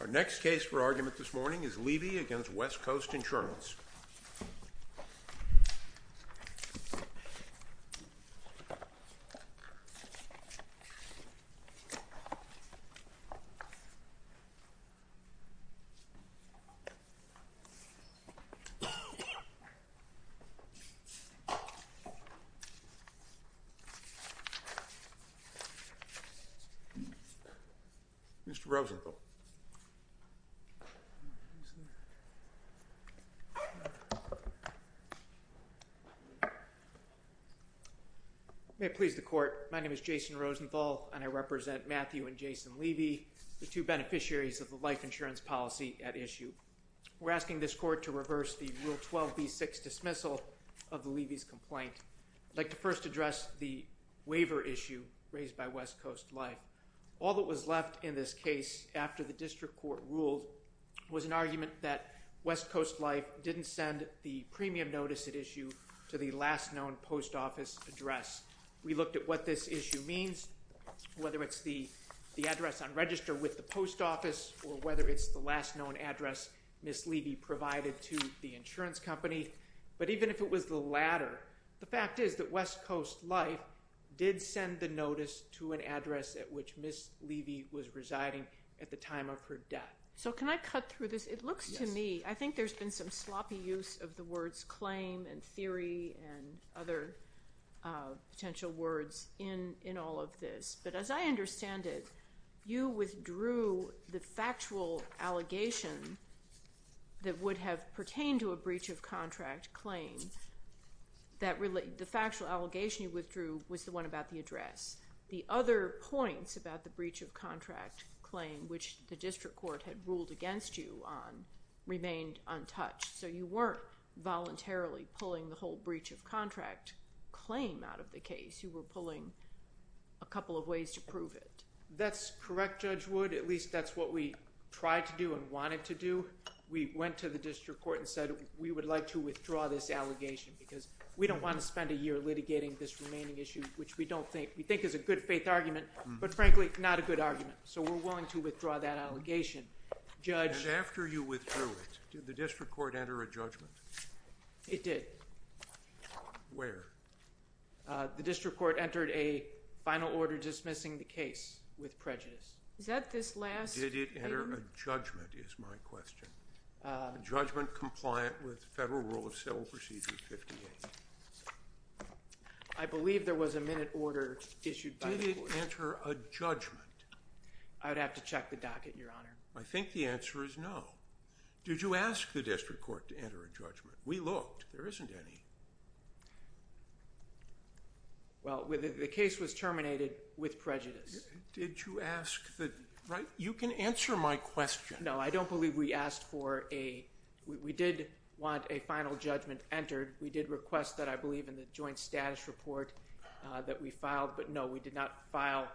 Our next case for argument this morning is Levy v. West Coast Insurance. Mr. Rosenthal. May it please the court, my name is Jason Rosenthal and I represent Matthew and Jason Levy, the two beneficiaries of the life insurance policy at issue. We're asking this court to reverse the Rule 12b-6 dismissal of the Levy's complaint. I'd like to first address the waiver issue raised by West Coast Life. All that was left in this case after the district court ruled was an argument that West Coast Life didn't send the premium notice at issue to the last known post office address. We looked at what this issue means, whether it's the address on register with the post office or whether it's the last known address Ms. Levy provided to the insurance company. But even if it was the latter, the fact is that West Coast Life did send the notice to an address at which Ms. Levy was residing at the time of her death. So can I cut through this? It looks to me, I think there's been some sloppy use of the words claim and theory and other potential words in all of this. But as I understand it, you withdrew the factual allegation that would have pertained to a breach of contract claim. The factual allegation you withdrew was the one about the address. The other points about the breach of contract claim which the district court had ruled against you on remained untouched. So you weren't voluntarily pulling the whole breach of contract claim out of the case. You were pulling a couple of ways to prove it. That's correct, Judge Wood. At least that's what we tried to do and wanted to do. We went to the district court and said we would like to withdraw this allegation because we don't want to spend a year litigating this remaining issue, which we don't think. We think is a good faith argument, but frankly, not a good argument. So we're willing to withdraw that allegation. And after you withdrew it, did the district court enter a judgment? It did. Where? The district court entered a final order dismissing the case with prejudice. Is that this last thing? Did it enter a judgment is my question. Judgment compliant with Federal Rule of Civil Procedure 58. I believe there was a minute order issued by the court. Did it enter a judgment? I would have to check the docket, Your Honor. I think the answer is no. Did you ask the district court to enter a judgment? We looked. There isn't any. Well, the case was terminated with prejudice. Did you ask the – you can answer my question. No, I don't believe we asked for a – we did want a final judgment entered. We did request that, I believe, in the joint status report that we filed. But no, we did not file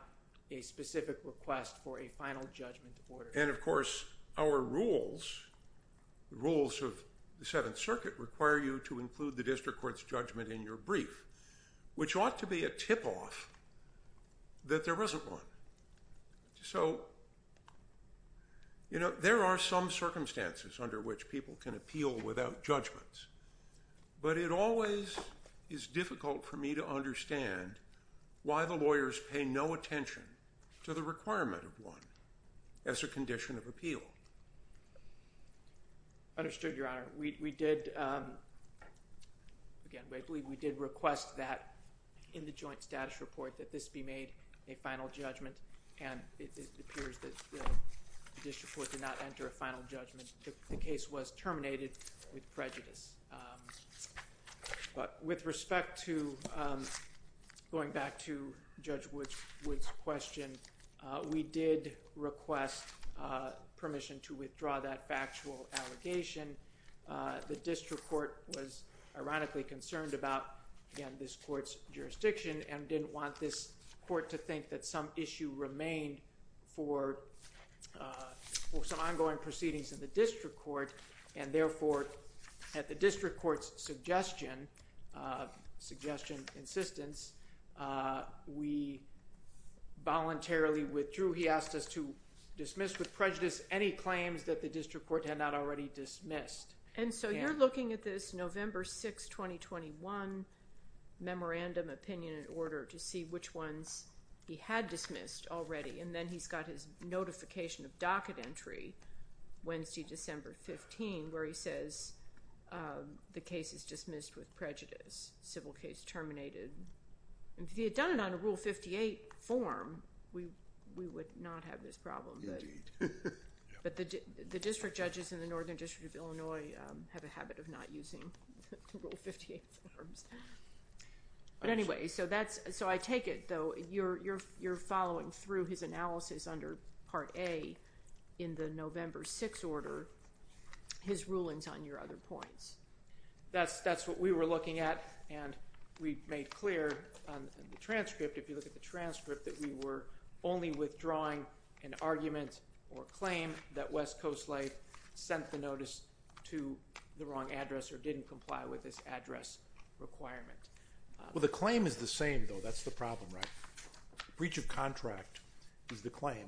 a specific request for a final judgment order. And, of course, our rules, the rules of the Seventh Circuit, require you to include the district court's judgment in your brief, which ought to be a tip-off that there wasn't one. So, you know, there are some circumstances under which people can appeal without judgments. But it always is difficult for me to understand why the lawyers pay no attention to the requirement of one as a condition of appeal. Understood, Your Honor. We did – again, I believe we did request that in the joint status report that this be made a final judgment, and it appears that the district court did not enter a final judgment. The case was terminated with prejudice. But with respect to going back to Judge Wood's question, we did request permission to withdraw that factual allegation. The district court was ironically concerned about, again, this court's jurisdiction and didn't want this court to think that some issue remained for some ongoing proceedings in the district court, and therefore at the district court's suggestion, suggestion, insistence, we voluntarily withdrew. He asked us to dismiss with prejudice any claims that the district court had not already dismissed. And so you're looking at this November 6, 2021 memorandum opinion in order to see which ones he had dismissed already, and then he's got his notification of docket entry Wednesday, December 15, where he says the case is dismissed with prejudice, civil case terminated. If he had done it on a Rule 58 form, we would not have this problem. Indeed. But the district judges in the Northern District of Illinois have a habit of not using the Rule 58 forms. But anyway, so I take it, though, you're following through his analysis under Part A in the November 6 order, his rulings on your other points. That's what we were looking at, and we made clear in the transcript, if you look at the transcript, that we were only withdrawing an argument or claim that West Coast Life sent the notice to the wrong address or didn't comply with this address requirement. Well, the claim is the same, though. That's the problem, right? Breach of contract is the claim.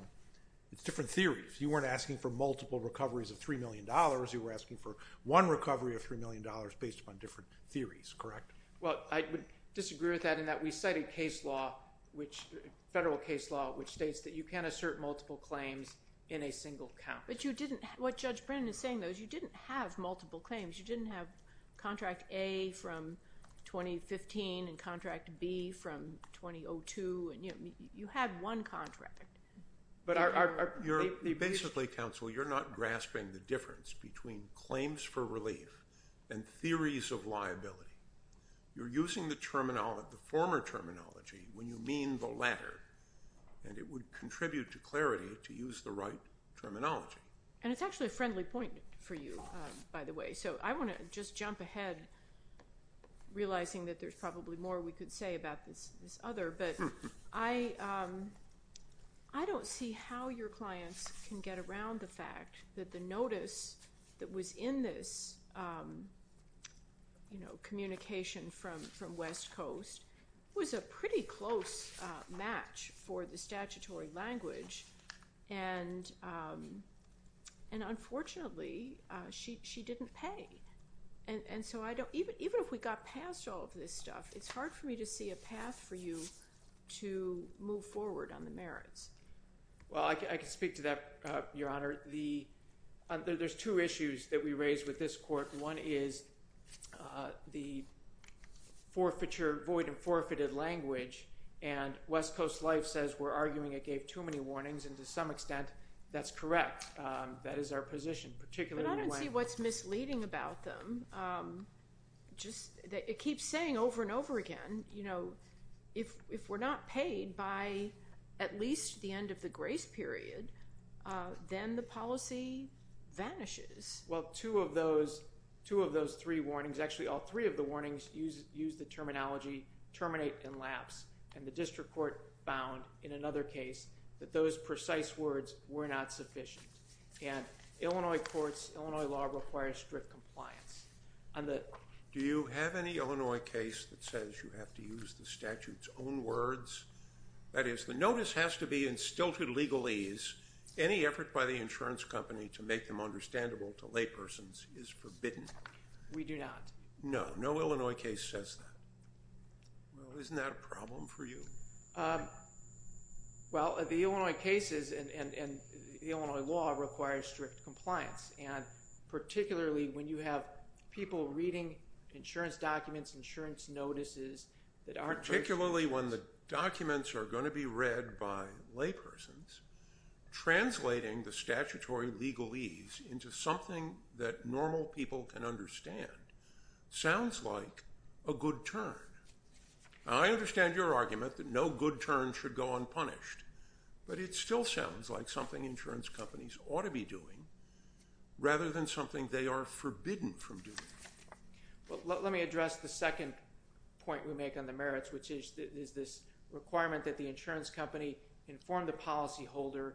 It's different theories. You weren't asking for multiple recoveries of $3 million. You were asking for one recovery of $3 million based upon different theories, correct? Well, I would disagree with that in that we cited case law, federal case law, which states that you can't assert multiple claims in a single count. But you didn't – what Judge Brennan is saying, though, is you didn't have multiple claims. You didn't have contract A from 2015 and contract B from 2002. You had one contract. Basically, counsel, you're not grasping the difference between claims for relief and theories of liability. You're using the former terminology when you mean the latter, and it would contribute to clarity to use the right terminology. And it's actually a friendly point for you, by the way. So I want to just jump ahead, realizing that there's probably more we could say about this other, but I don't see how your clients can get around the fact that the notice that was in this communication from West Coast was a pretty close match for the statutory language and, unfortunately, she didn't pay. And so I don't – even if we got past all of this stuff, it's hard for me to see a path for you to move forward on the merits. Well, I can speak to that, Your Honor. There's two issues that we raised with this court. One is the forfeiture, void and forfeited language, and West Coast Life says we're arguing it gave too many warnings, and to some extent that's correct. That is our position, particularly when— But I don't see what's misleading about them. It keeps saying over and over again, you know, if we're not paid by at least the end of the grace period, then the policy vanishes. Well, two of those three warnings – actually, all three of the warnings use the terminology terminate and lapse, and the district court found in another case that those precise words were not sufficient. And Illinois courts, Illinois law requires strict compliance. Do you have any Illinois case that says you have to use the statute's own words? That is, the notice has to be in stilted legalese. Any effort by the insurance company to make them understandable to laypersons is forbidden. We do not. No, no Illinois case says that. Well, isn't that a problem for you? Well, the Illinois cases and Illinois law require strict compliance, and particularly when you have people reading insurance documents, insurance notices that aren't— Particularly when the documents are going to be read by laypersons, translating the statutory legalese into something that normal people can understand sounds like a good turn. Now, I understand your argument that no good turn should go unpunished, but it still sounds like something insurance companies ought to be doing rather than something they are forbidden from doing. Well, let me address the second point you make on the merits, which is this requirement that the insurance company inform the policyholder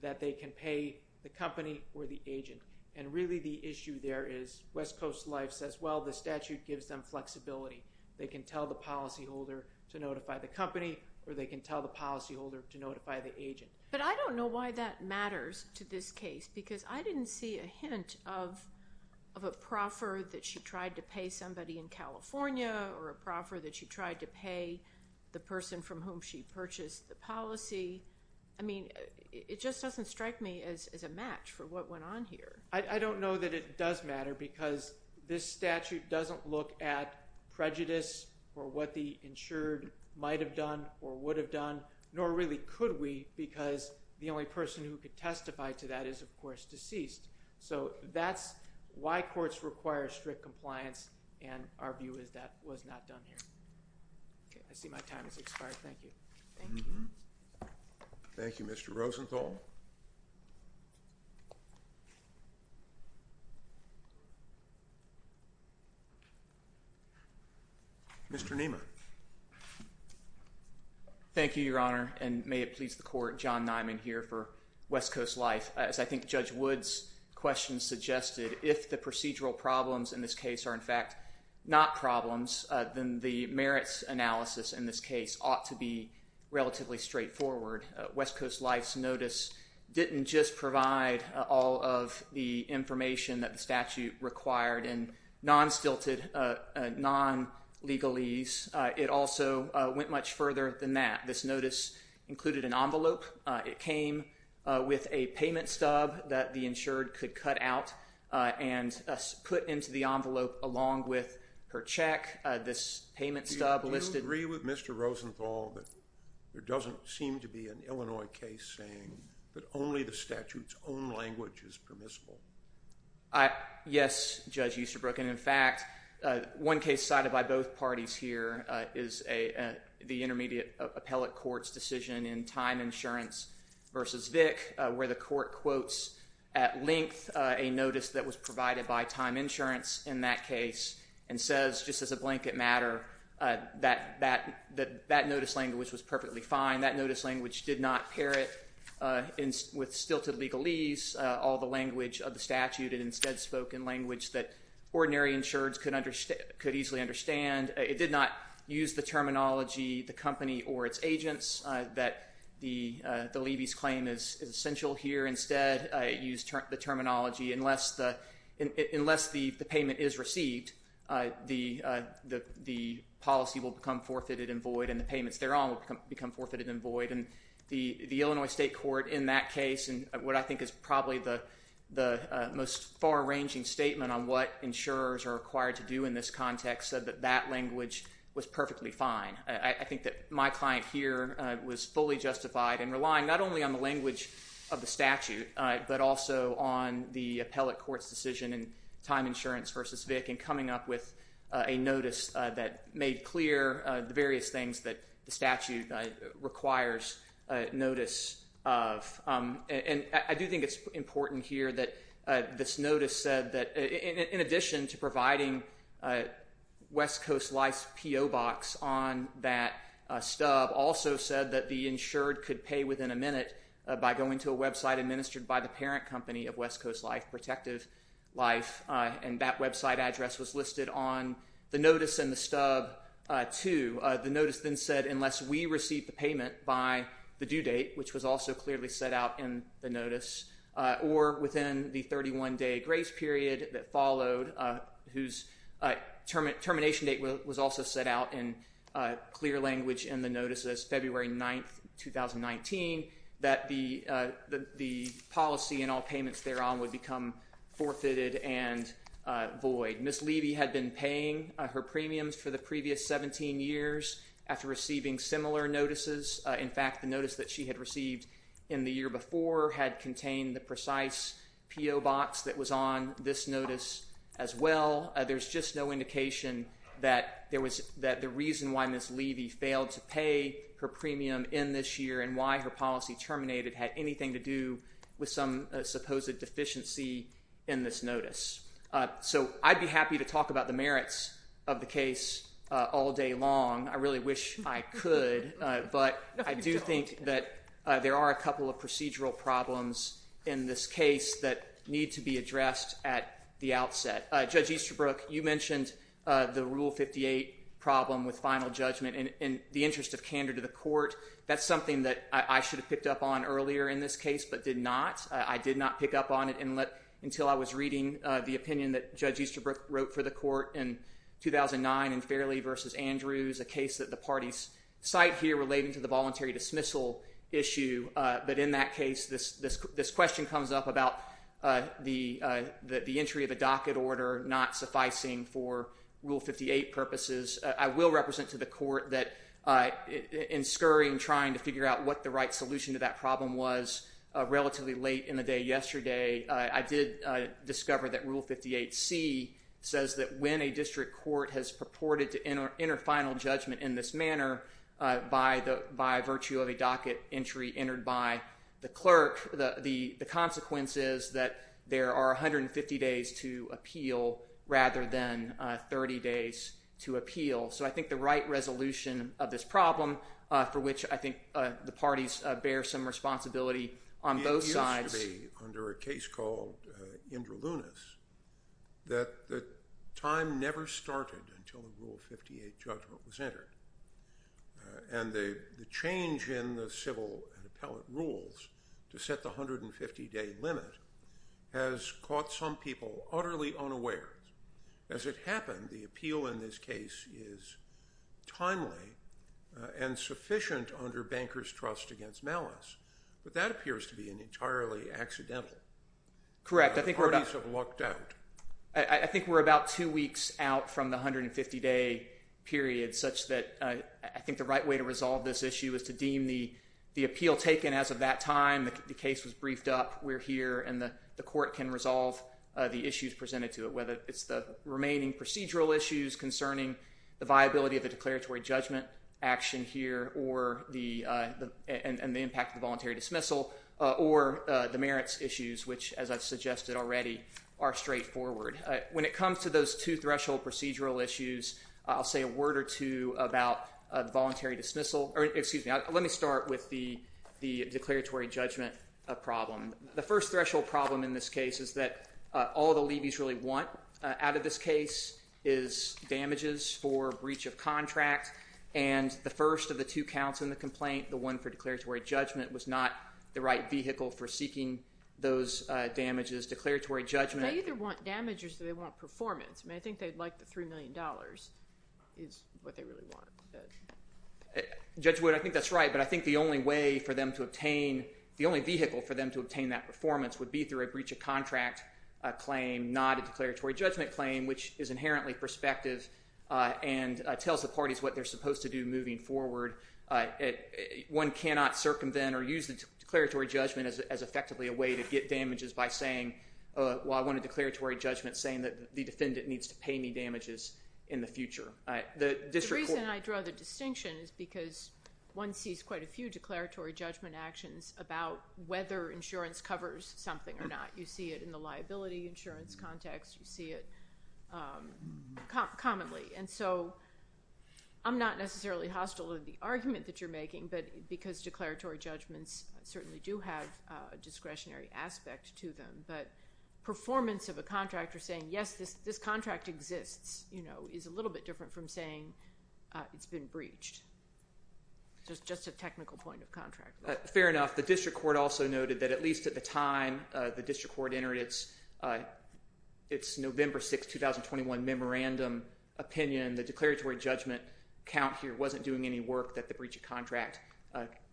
that they can pay the company or the agent. And really the issue there is West Coast Life says, well, the statute gives them flexibility. They can tell the policyholder to notify the company or they can tell the policyholder to notify the agent. But I don't know why that matters to this case because I didn't see a hint of a proffer that she tried to pay somebody in California or a proffer that she tried to pay the person from whom she purchased the policy. I mean, it just doesn't strike me as a match for what went on here. I don't know that it does matter because this statute doesn't look at prejudice or what the insured might have done or would have done, nor really could we because the only person who could testify to that is, of course, deceased. So that's why courts require strict compliance, and our view is that was not done here. Okay, I see my time has expired. Thank you. Thank you. Thank you, Mr. Rosenthal. Mr. Niemann. Thank you, Your Honor, and may it please the court, John Niemann here for West Coast Life. As I think Judge Wood's question suggested, if the procedural problems in this case are, in fact, not problems, then the merits analysis in this case ought to be relatively straightforward. West Coast Life's notice didn't just provide all of the information that the statute required in non-stilted, non-legalese. It also went much further than that. This notice included an envelope. It came with a payment stub that the insured could cut out and put into the envelope along with her check. This payment stub listed- Do you agree with Mr. Rosenthal that there doesn't seem to be an Illinois case saying that only the statute's own language is permissible? Yes, Judge Usterbrook, and, in fact, one case cited by both parties here is the intermediate appellate court's decision in Time Insurance v. Vick where the court quotes at length a notice that was provided by Time Insurance in that case and says, just as a blanket matter, that that notice language was perfectly fine. That notice language did not pair it with stilted legalese, all the language of the statute, and instead spoke in language that ordinary insureds could easily understand. It did not use the terminology, the company or its agents, that the levy's claim is essential here. Instead, it used the terminology, unless the payment is received, the policy will become forfeited and void and the payments thereon will become forfeited and void. The Illinois state court in that case, in what I think is probably the most far-ranging statement on what insurers are required to do in this context, said that that language was perfectly fine. I think that my client here was fully justified in relying not only on the language of the statute but also on the appellate court's decision in Time Insurance v. Vick in coming up with a notice that made clear the various things that the statute requires notice of. I do think it's important here that this notice said that in addition to providing West Coast Life's PO box on that stub, also said that the insured could pay within a minute by going to a website administered by the parent company of West Coast Life, Protective Life, and that website address was listed on the notice and the stub too. The notice then said, unless we receive the payment by the due date, which was also clearly set out in the notice, or within the 31-day grace period that followed, whose termination date was also set out in clear language in the notice as February 9, 2019, that the policy and all payments thereon would become forfeited and void. Ms. Levy had been paying her premiums for the previous 17 years after receiving similar notices. In fact, the notice that she had received in the year before had contained the precise PO box that was on this notice as well. There's just no indication that the reason why Ms. Levy failed to pay her premium in this year and why her policy terminated had anything to do with some supposed deficiency in this notice. So I'd be happy to talk about the merits of the case all day long. I really wish I could. But I do think that there are a couple of procedural problems in this case that need to be addressed at the outset. Judge Easterbrook, you mentioned the Rule 58 problem with final judgment. In the interest of candor to the court, that's something that I should have picked up on earlier in this case but did not. I did not pick up on it until I was reading the opinion that Judge Easterbrook wrote for the court in 2009 in Fairley v. Andrews, a case that the parties cite here relating to the voluntary dismissal issue. But in that case, this question comes up about the entry of a docket order not sufficing for Rule 58 purposes. I will represent to the court that in scurrying, trying to figure out what the right solution to that problem was relatively late in the day yesterday, I did discover that Rule 58c says that when a district court has purported to enter final judgment in this manner by virtue of a docket entry entered by the clerk, the consequence is that there are 150 days to appeal rather than 30 days to appeal. So I think the right resolution of this problem for which I think the parties bear some responsibility on both sides. It appears to be under a case called Indra Lunis that the time never started until the Rule 58 judgment was entered. And the change in the civil and appellate rules to set the 150-day limit has caught some people utterly unaware. As it happened, the appeal in this case is timely and sufficient under bankers' trust against malice. But that appears to be entirely accidental. Correct. The parties have lucked out. I think we're about two weeks out from the 150-day period such that I think the right way to resolve this issue is to deem the appeal taken as of that time, the case was briefed up, we're here, and the court can resolve the issues presented to it, whether it's the remaining procedural issues concerning the viability of the declaratory judgment action here and the impact of the voluntary dismissal or the merits issues, which, as I've suggested already, are straightforward. When it comes to those two threshold procedural issues, I'll say a word or two about the voluntary dismissal. Excuse me. Let me start with the declaratory judgment problem. The first threshold problem in this case is that all the levies really want out of this case is damages for breach of contract. And the first of the two counts in the complaint, the one for declaratory judgment, was not the right vehicle for seeking those damages. Declaratory judgment. They either want damages or they want performance. I mean, I think they'd like the $3 million is what they really want. Judge Wood, I think that's right, but I think the only way for them to obtain, the only vehicle for them to obtain that performance would be through a breach of contract claim, not a declaratory judgment claim, which is inherently prospective and tells the parties what they're supposed to do moving forward. One cannot circumvent or use the declaratory judgment as effectively a way to get damages by saying, well, I want a declaratory judgment saying that the defendant needs to pay me damages in the future. The reason I draw the distinction is because one sees quite a few declaratory judgment actions about whether insurance covers something or not. You see it in the liability insurance context. You see it commonly. And so I'm not necessarily hostile to the argument that you're making, but because declaratory judgments certainly do have a discretionary aspect to them. But performance of a contractor saying, yes, this contract exists, you know, is a little bit different from saying it's been breached. Just a technical point of contract. Fair enough. The district court also noted that at least at the time the district court entered its November 6, 2021 memorandum opinion, the declaratory judgment count here wasn't doing any work, that the breach of contract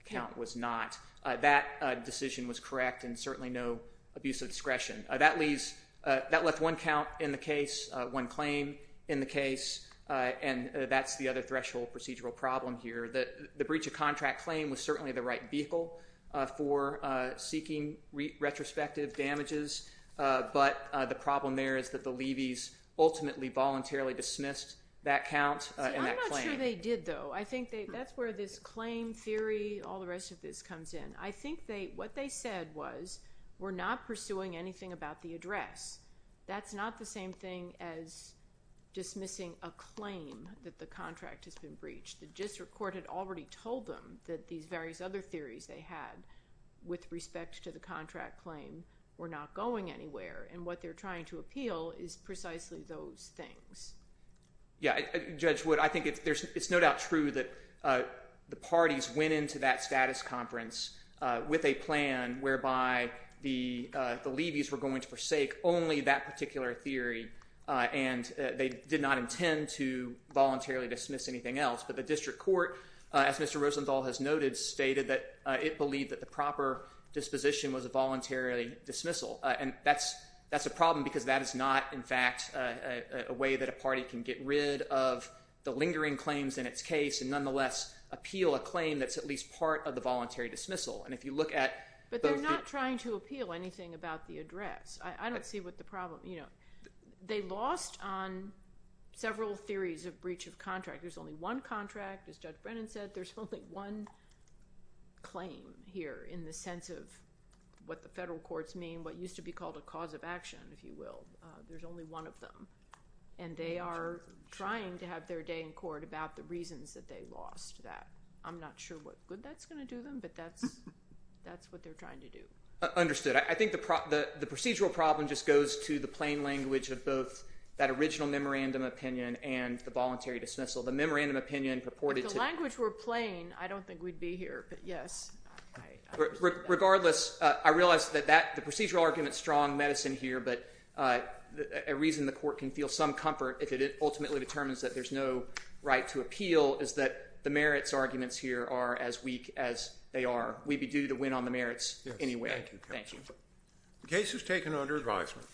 count was not. That decision was correct and certainly no abuse of discretion. That left one count in the case, one claim in the case, and that's the other threshold procedural problem here. The breach of contract claim was certainly the right vehicle for seeking retrospective damages, but the problem there is that the levees ultimately voluntarily dismissed that count and that claim. I'm not sure they did, though. I think that's where this claim theory, all the rest of this comes in. I think what they said was we're not pursuing anything about the address. That's not the same thing as dismissing a claim that the contract has been breached. The district court had already told them that these various other theories they had with respect to the contract claim were not going anywhere, and what they're trying to appeal is precisely those things. Yeah, Judge Wood, I think it's no doubt true that the parties went into that status conference with a plan whereby the levees were going to forsake only that particular theory, and they did not intend to voluntarily dismiss anything else, but the district court, as Mr. Rosenthal has noted, stated that it believed that the proper disposition was a voluntary dismissal, and that's a problem because that is not, in fact, a way that a party can get rid of the lingering claims in its case and nonetheless appeal a claim that's at least part of the voluntary dismissal. But they're not trying to appeal anything about the address. I don't see what the problem – they lost on several theories of breach of contract. There's only one contract, as Judge Brennan said. There's only one claim here in the sense of what the federal courts mean, what used to be called a cause of action, if you will. There's only one of them, and they are trying to have their day in court about the reasons that they lost that. I'm not sure what good that's going to do them, but that's what they're trying to do. Understood. I think the procedural problem just goes to the plain language of both that original memorandum opinion and the voluntary dismissal. The memorandum opinion purported to – If the language were plain, I don't think we'd be here, but yes. Regardless, I realize that the procedural argument is strong medicine here, but a reason the court can feel some comfort if it ultimately determines that there's no right to appeal is that the merits arguments here are as weak as they are. We'd be due to win on the merits anyway. Thank you, counsel. The case is taken under advisement.